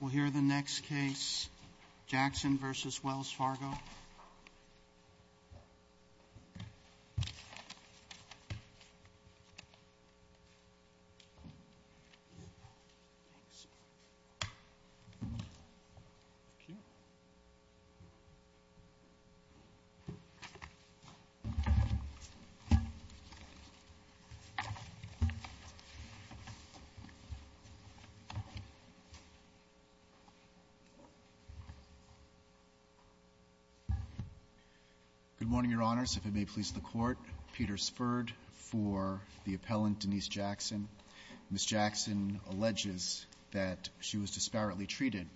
We'll hear the next case, Jackson v. Wells Fargo. Good morning, Your Honors. If it may please the Court, Peter Sferd for the appellant, Denise Jackson. Ms. Jackson alleges that she was disparately treated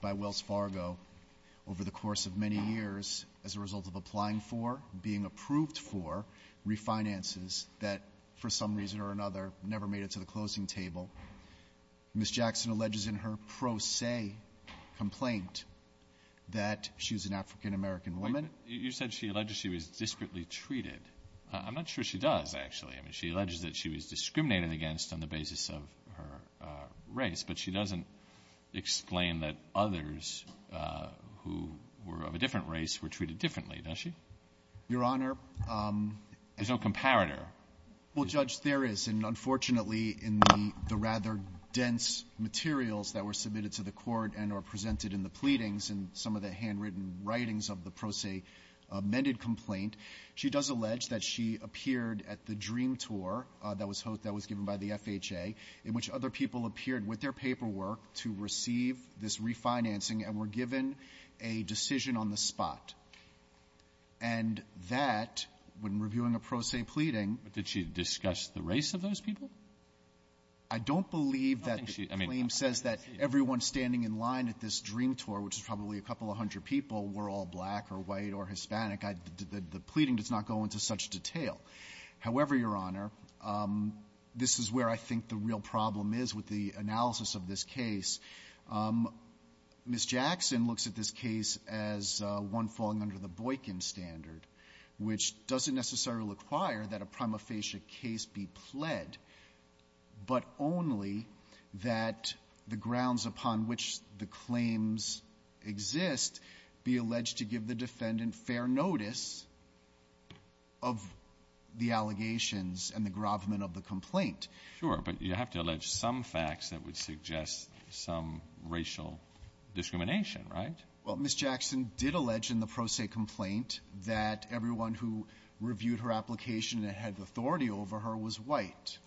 by Wells Fargo over the course of many years as a result of applying for, being approved for refinances that for some reason or another never made it to the closing table. Ms. Jackson alleges in her pro se complaint that she was an African-American woman. You said she alleged she was disparately treated. I'm not sure she does, actually. I mean, she alleges that she was discriminated against on the basis of her race, but she doesn't explain that others who were of a different race were treated differently, does she? Your Honor ---- There's no comparator. Well, Judge, there is, and unfortunately in the rather dense materials that were submitted to the Court and are presented in the pleadings and some of the handwritten writings of the pro se amended complaint, she does allege that she appeared at the Dream Tour that was given by the FHA in which other people appeared with their paperwork to receive this refinancing and were given a decision on the spot. And that, when reviewing a pro se pleading ---- But did she discuss the race of those people? I don't believe that the claim says that everyone standing in line at this Dream Tour, which is probably a couple of hundred people, were all black or white or Hispanic. The pleading does not go into such detail. However, Your Honor, this is where I think the real problem is with the analysis of this case. Ms. Jackson looks at this case as one falling under the Boykin standard, which doesn't necessarily require that a prima facie case be pled, but only that the grounds upon which the claims exist be alleged to give the defendant fair notice of the allegations and the grovement of the complaint. Sure. But you have to allege some facts that would suggest some racial discrimination, right? Well, Ms. Jackson did allege in the pro se complaint that everyone who reviewed her application and had authority over her was white.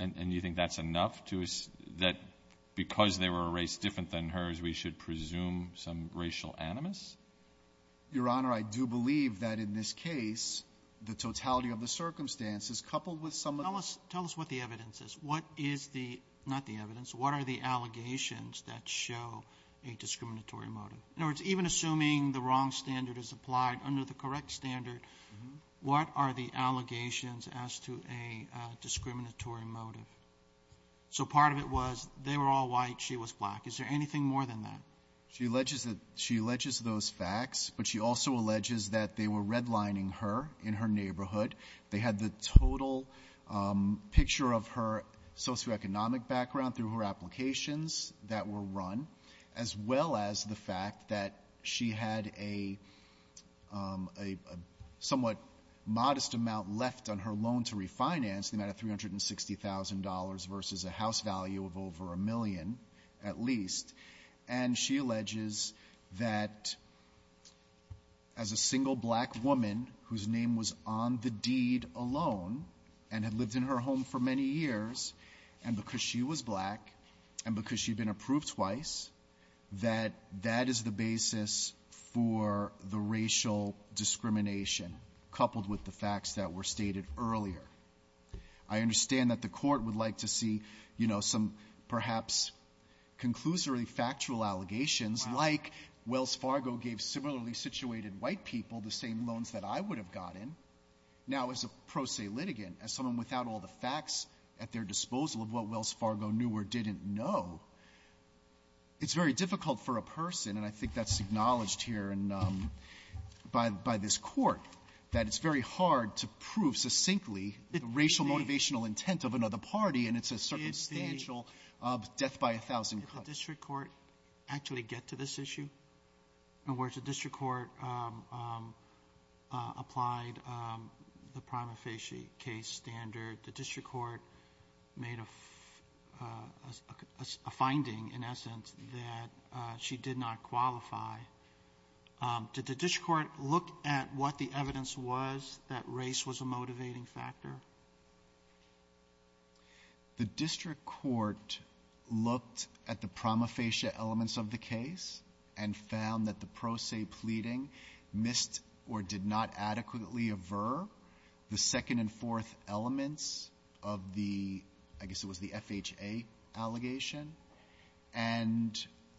And you think that's enough to ---- that because they were a race different than hers, we should presume some racial animus? Your Honor, I do believe that in this case, the totality of the circumstances coupled with some of the ---- Tell us what the evidence is. What is the ---- not the evidence. What are the ---- In other words, even assuming the wrong standard is applied under the correct standard, what are the allegations as to a discriminatory motive? So part of it was they were all white, she was black. Is there anything more than that? She alleges that she alleges those facts, but she also alleges that they were redlining her in her neighborhood. They had the total picture of her socioeconomic background through her applications that were run, as well as the fact that she had a somewhat modest amount left on her loan to refinance, the amount of $360,000 versus a house value of over a million at least. And she alleges that as a single black woman whose name was on the deed alone and had lived in her home for many years, and because she was black and because she had been approved twice, that that is the basis for the racial discrimination coupled with the facts that were stated earlier. I understand that the Court would like to see, you know, some perhaps conclusory factual allegations like Wells Fargo gave similarly situated white people the same loans that I would have gotten. Now, as a pro se litigant, as someone without all the facts at their disposal of what Wells Fargo knew or didn't know, it's very difficult for a person, and I think that's acknowledged here and by this Court, that it's very hard to prove succinctly the racial motivational intent of another party, and it's a circumstantial death by a thousand cuts. Does the district court actually get to this issue? In other words, the district court applied the prima facie case standard. The district court made a finding, in essence, that she did not qualify. Did the district court look at what the evidence was that race was a motivating factor? The district court looked at the prima facie elements of the case and found that the pro se pleading missed or did not adequately aver the second and fourth elements of the, I guess it was the FHA allegation, and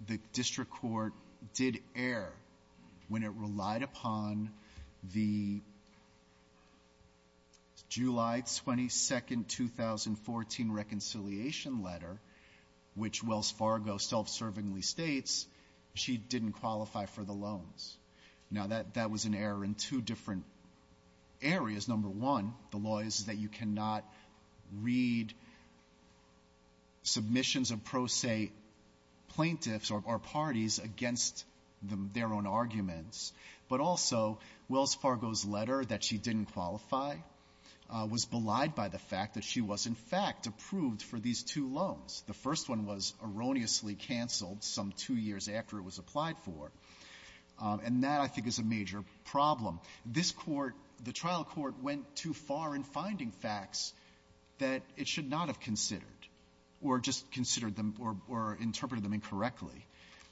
the district court did err when it relied upon the July 22, 2014 reconciliation letter, which Wells Fargo self-servingly states she didn't qualify for the loans. Now, that was an error in two different areas. Number one, the law is that you cannot read submissions of pro se plaintiffs or parties against their own arguments. But also, Wells Fargo's letter that she didn't qualify was belied by the fact that she was, in fact, approved for these two loans. The first one was erroneously canceled some two years after it was applied for, and that, I think, is a major problem. This Court, the trial court, went too far in finding facts that it should not have and interpreted them incorrectly.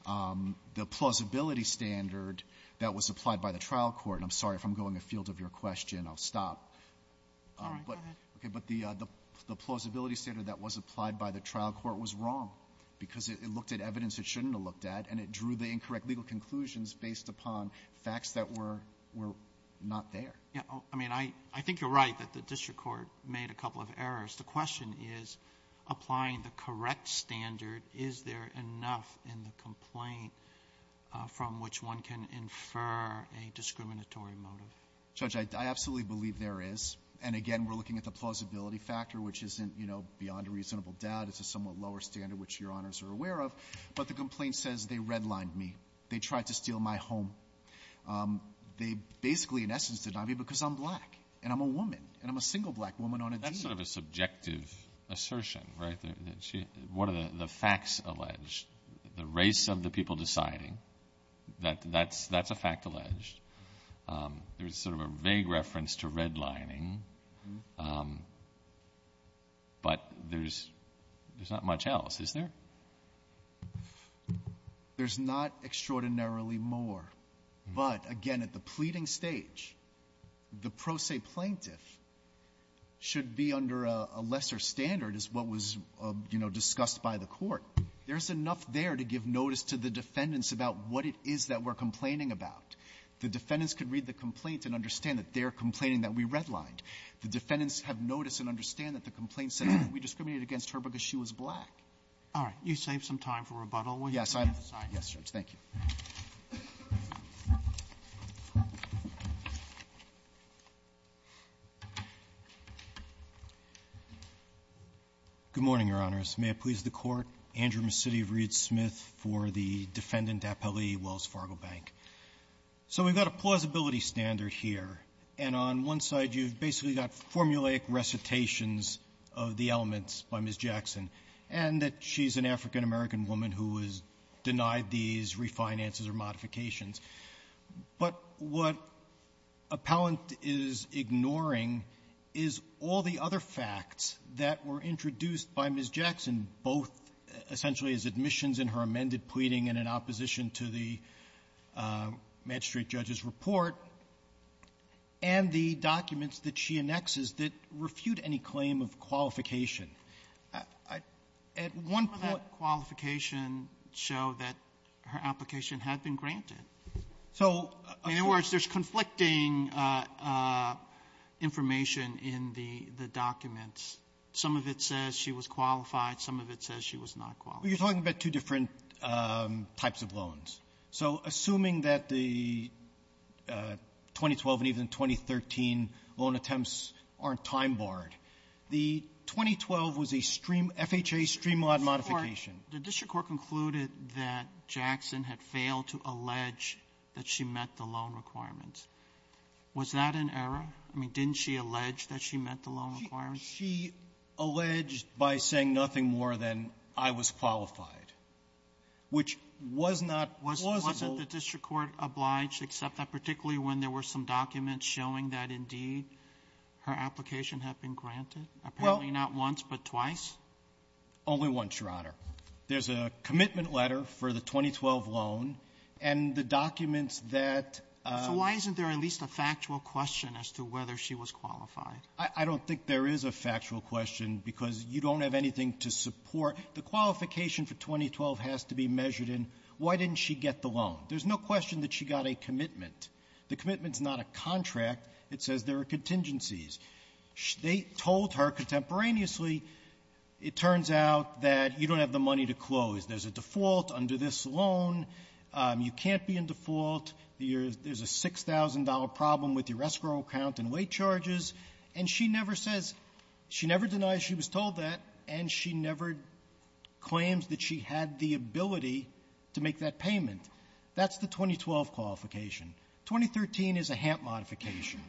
The plausibility standard that was applied by the trial court, and I'm sorry, if I'm going afield of your question, I'll stop. But the plausibility standard that was applied by the trial court was wrong because it looked at evidence it shouldn't have looked at, and it drew the incorrect legal conclusions based upon facts that were not there. I mean, I think you're right that the district court made a couple of errors. The question is, applying the correct standard, is there enough in the complaint from which one can infer a discriminatory motive? Judge, I absolutely believe there is. And again, we're looking at the plausibility factor, which isn't, you know, beyond a reasonable doubt. It's a somewhat lower standard, which Your Honors are aware of. But the complaint says they redlined me. They tried to steal my home. They basically, in essence, denied me because I'm black, and I'm a woman, and I'm a single black woman on a deed. This is sort of a subjective assertion, right? What are the facts alleged? The race of the people deciding, that's a fact alleged. There's sort of a vague reference to redlining. But there's not much else, is there? There's not extraordinarily more. But, again, at the pleading stage, the pro se plaintiff should be under a lesser standard, as what was, you know, discussed by the Court. There's enough there to give notice to the defendants about what it is that we're complaining about. The defendants could read the complaint and understand that they're complaining that we redlined. The defendants have notice and understand that the complaint says that we discriminated against her because she was black. All right. You saved some time for rebuttal. Yes. I'm sorry. Yes, Judge. Thank you. Good morning, Your Honors. May it please the Court. Andrew McCity of Reed Smith for the Defendant Appellee, Wells Fargo Bank. So we've got a plausibility standard here, and on one side, you've basically got formulaic recitations of the elements by Ms. Jackson, and that she's an African-American woman who has denied these refinances or modifications. But what Appellant is ignoring is all the other facts that were introduced by Ms. Jackson, both essentially as admissions in her amended pleading and in opposition to the magistrate judge's report, and the documents that she annexes that refute any claim of qualification. I at one point of that qualification show that her application had been granted. So in other words, there's conflicting information in the documents. Some of it says she was qualified. Some of it says she was not qualified. Well, you're talking about two different types of loans. So assuming that the 2012 and even 2013 loan attempts aren't time-barred, the 2012 was a stream FHA streamlot modification. The district court concluded that Jackson had failed to allege that she met the loan requirements. Was that an error? I mean, didn't she allege that she met the loan requirements? She alleged by saying nothing more than I was qualified, which was not plausible Wasn't the district court obliged to accept that, particularly when there were some documents showing that, indeed, her application had been granted? Apparently not once, but twice? Only once, Your Honor. There's a commitment letter for the 2012 loan, and the documents that So why isn't there at least a factual question as to whether she was qualified? I don't think there is a factual question, because you don't have anything to support. The qualification for 2012 has to be measured in why didn't she get the loan. There's no question that she got a commitment. The commitment's not a contract. It says there are contingencies. They told her contemporaneously, it turns out that you don't have the money to close. There's a default under this loan. You can't be in default. There's a $6,000 problem with your escrow count and weight charges. And she never says, she never denies she was told that, and she never claims that she had the ability to make that payment. That's the 2012 qualification. 2013 is a HAMP modification.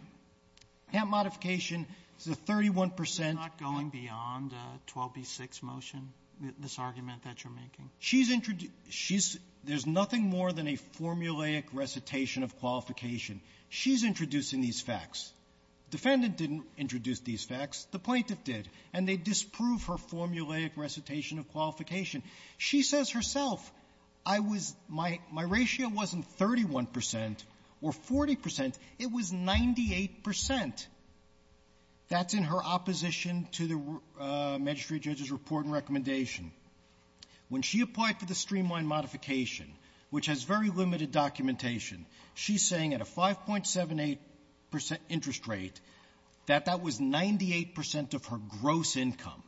HAMP modification is a 31 percent You're not going beyond 12b-6 motion, this argument that you're making? There's nothing more than a formulaic recitation of qualification. She's introducing these facts. Defendant didn't introduce these facts. The plaintiff did. And they disprove her formulaic recitation of qualification. She says herself, I was — my ratio wasn't 31 percent or 40 percent. It was 98 percent. That's in her opposition to the magistrate judge's report and recommendation. When she applied for the streamline modification, which has very limited documentation, she's saying at a 5.78 percent interest rate, that that was 98 percent of her gross income.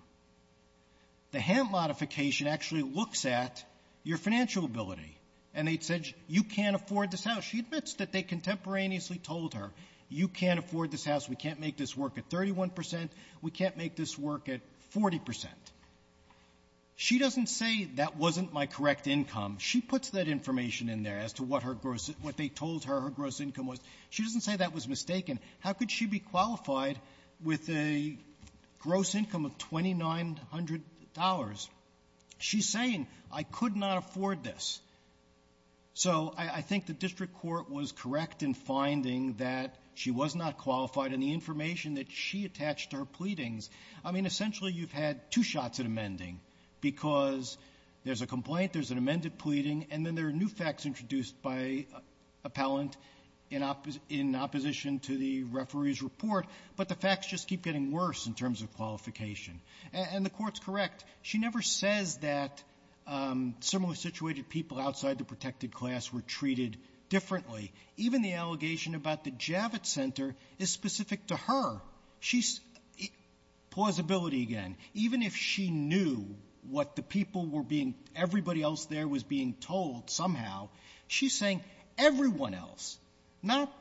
The HAMP modification actually looks at your financial ability. And they said, you can't afford this house. She admits that they contemporaneously told her, you can't afford this house. We can't make this work at 31 percent. We can't make this work at 40 percent. She doesn't say, that wasn't my correct income. She puts that information in there as to what her gross — what they told her her gross income was. She doesn't say that was mistaken. How could she be qualified with a gross income of $2,900? She's saying, I could not afford this. So I think the district court was correct in finding that she was not qualified. And the information that she attached to her pleadings — I mean, essentially, you've had two shots at amending, because there's a complaint, there's an amended pleading, and then there are new facts introduced by appellant in opposition to the referee's report. But the facts just keep getting worse in terms of qualification. And the Court's correct. She never says that similarly situated people outside the protected class were treated differently. Even the allegation about the Javits Center is specific to her. She's — plausibility again. Even if she knew what the people were being — everybody else there was being told somehow, she's saying everyone else, not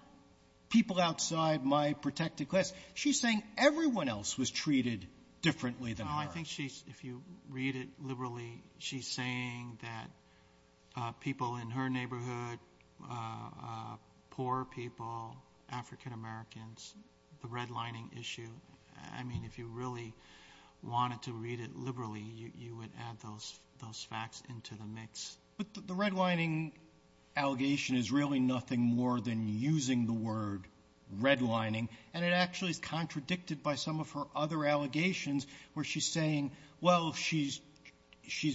people outside my protected class. She's saying everyone else was treated differently than her. Well, I think she's — if you read it liberally, she's saying that people in her neighborhood, poor people, African-Americans, the redlining issue. I mean, if you really wanted to read it liberally, you would add those facts into the mix. But the redlining allegation is really nothing more than using the word redlining. And it actually is contradicted by some of her other allegations where she's saying, well, she's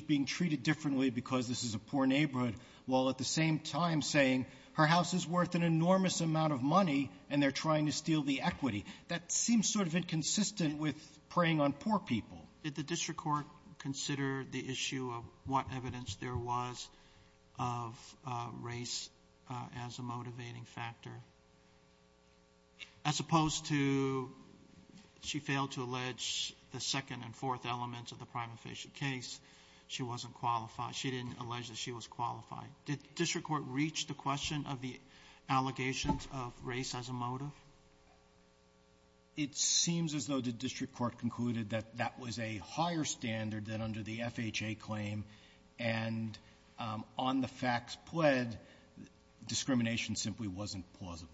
being treated differently because this is a poor neighborhood, while at the same time saying her house is worth an enormous amount of money, and they're trying to steal the equity. That seems sort of inconsistent with preying on poor people. Did the district court consider the issue of what evidence there was of race as a motivating factor? As opposed to she failed to allege the second and fourth elements of the prima facie case, she wasn't qualified. She didn't allege that she was qualified. Did the district court reach the question of the allegations of race as a motive? It seems as though the district court concluded that that was a higher standard than under the FHA claim, and on the facts pled, discrimination simply wasn't plausible.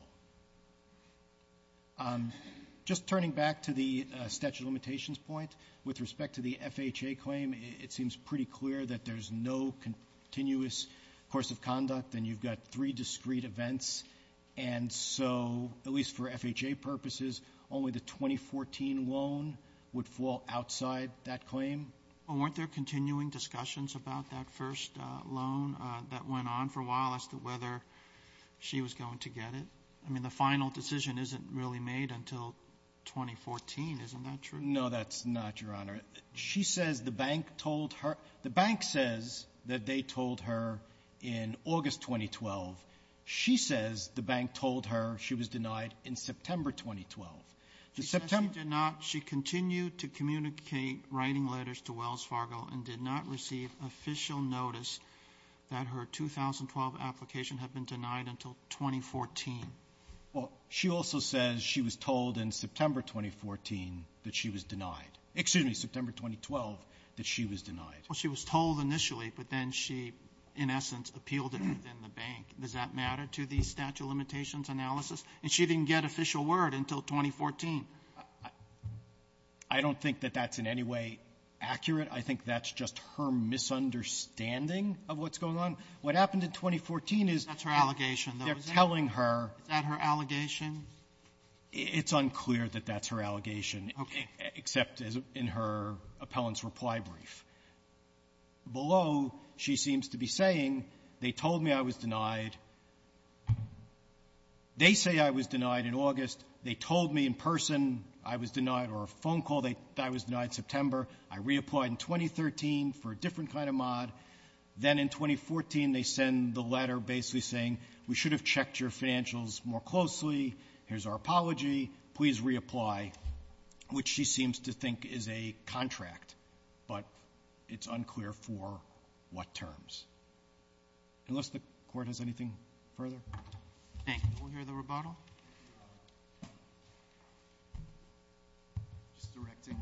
Just turning back to the statute of limitations point, with respect to the FHA claim, it seems pretty clear that there's no continuous course of conduct, and you've got three discrete events. And so, at least for FHA purposes, only the 2014 loan would fall outside that claim. Weren't there continuing discussions about that first loan that went on for a while as to whether she was going to get it? I mean, the final decision isn't really made until 2014. Isn't that true? No, that's not, Your Honor. She says the bank told her. The bank says that they told her in August 2012. She says the bank told her she was denied in September 2012. She says she did not. She continued to communicate writing letters to Wells Fargo and did not receive official notice that her 2012 application had been denied until 2014. Well, she also says she was told in September 2014 that she was denied. Excuse me, September 2012 that she was denied. Well, she was told initially, but then she, in essence, appealed it within the bank. Does that matter to the statute of limitations analysis? And she didn't get official word until 2014. I don't think that that's in any way accurate. I think that's just her misunderstanding of what's going on. What happened in 2014 is they're telling her. Is that her allegation? It's unclear that that's her allegation, except in her appellant's reply brief. Below, she seems to be saying they told me I was denied. They say I was denied in August. They told me in person I was denied or a phone call that I was denied in September. I reapplied in 2013 for a different kind of mod. Then in 2014, they send the letter basically saying we should have checked your financials more closely. Here's our apology. Please reapply, which she seems to think is a contract. But it's unclear for what terms. Unless the Court has anything further. Thank you. We'll hear the rebuttal. Just directing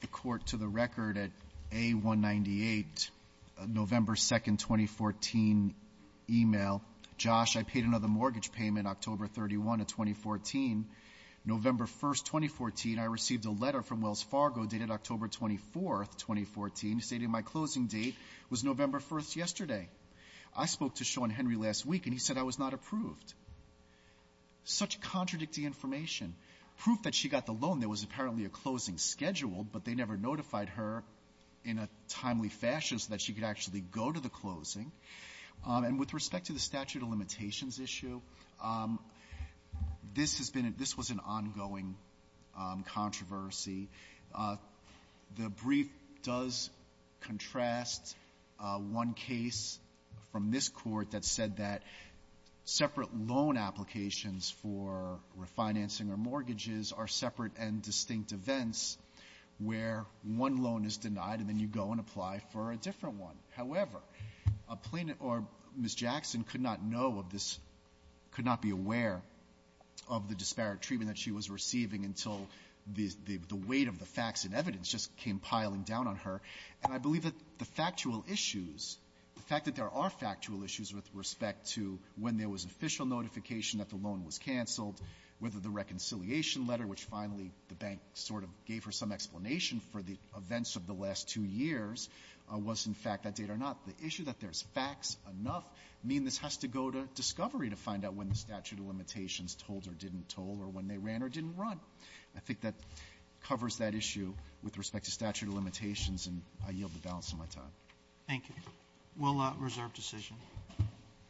the Court to the record at A198, November 2, 2014, email. Josh, I paid another mortgage payment October 31 of 2014. November 1, 2014, I received a letter from Wells Fargo dated October 24, 2014, stating my closing date was November 1 yesterday. I spoke to Sean Henry last week, and he said I was not approved. Such contradictory information. Proof that she got the loan. There was apparently a closing scheduled, but they never notified her in a timely fashion so that she could actually go to the closing. And with respect to the statute of limitations issue, this was an ongoing controversy. The brief does contrast one case from this Court that said that separate loan applications for refinancing or mortgages are separate and distinct events where one loan is denied and then you go and apply for a different one. However, Ms. Jackson could not know of this, could not be aware of the disparate treatment that she was receiving until the weight of the facts and evidence just came piling down on her. And I believe that the factual issues, the fact that there are factual issues with respect to when there was official notification that the loan was canceled, whether the reconciliation letter, which finally the bank sort of gave her some explanation for the events of the last two years, was in fact that date or not. The issue that there's facts enough mean this has to go to discovery to find out when the statute of limitations told or didn't told or when they ran or didn't run. I think that covers that issue with respect to statute of limitations, and I yield the balance of my time. Roberts. Thank you. We'll reserve decision.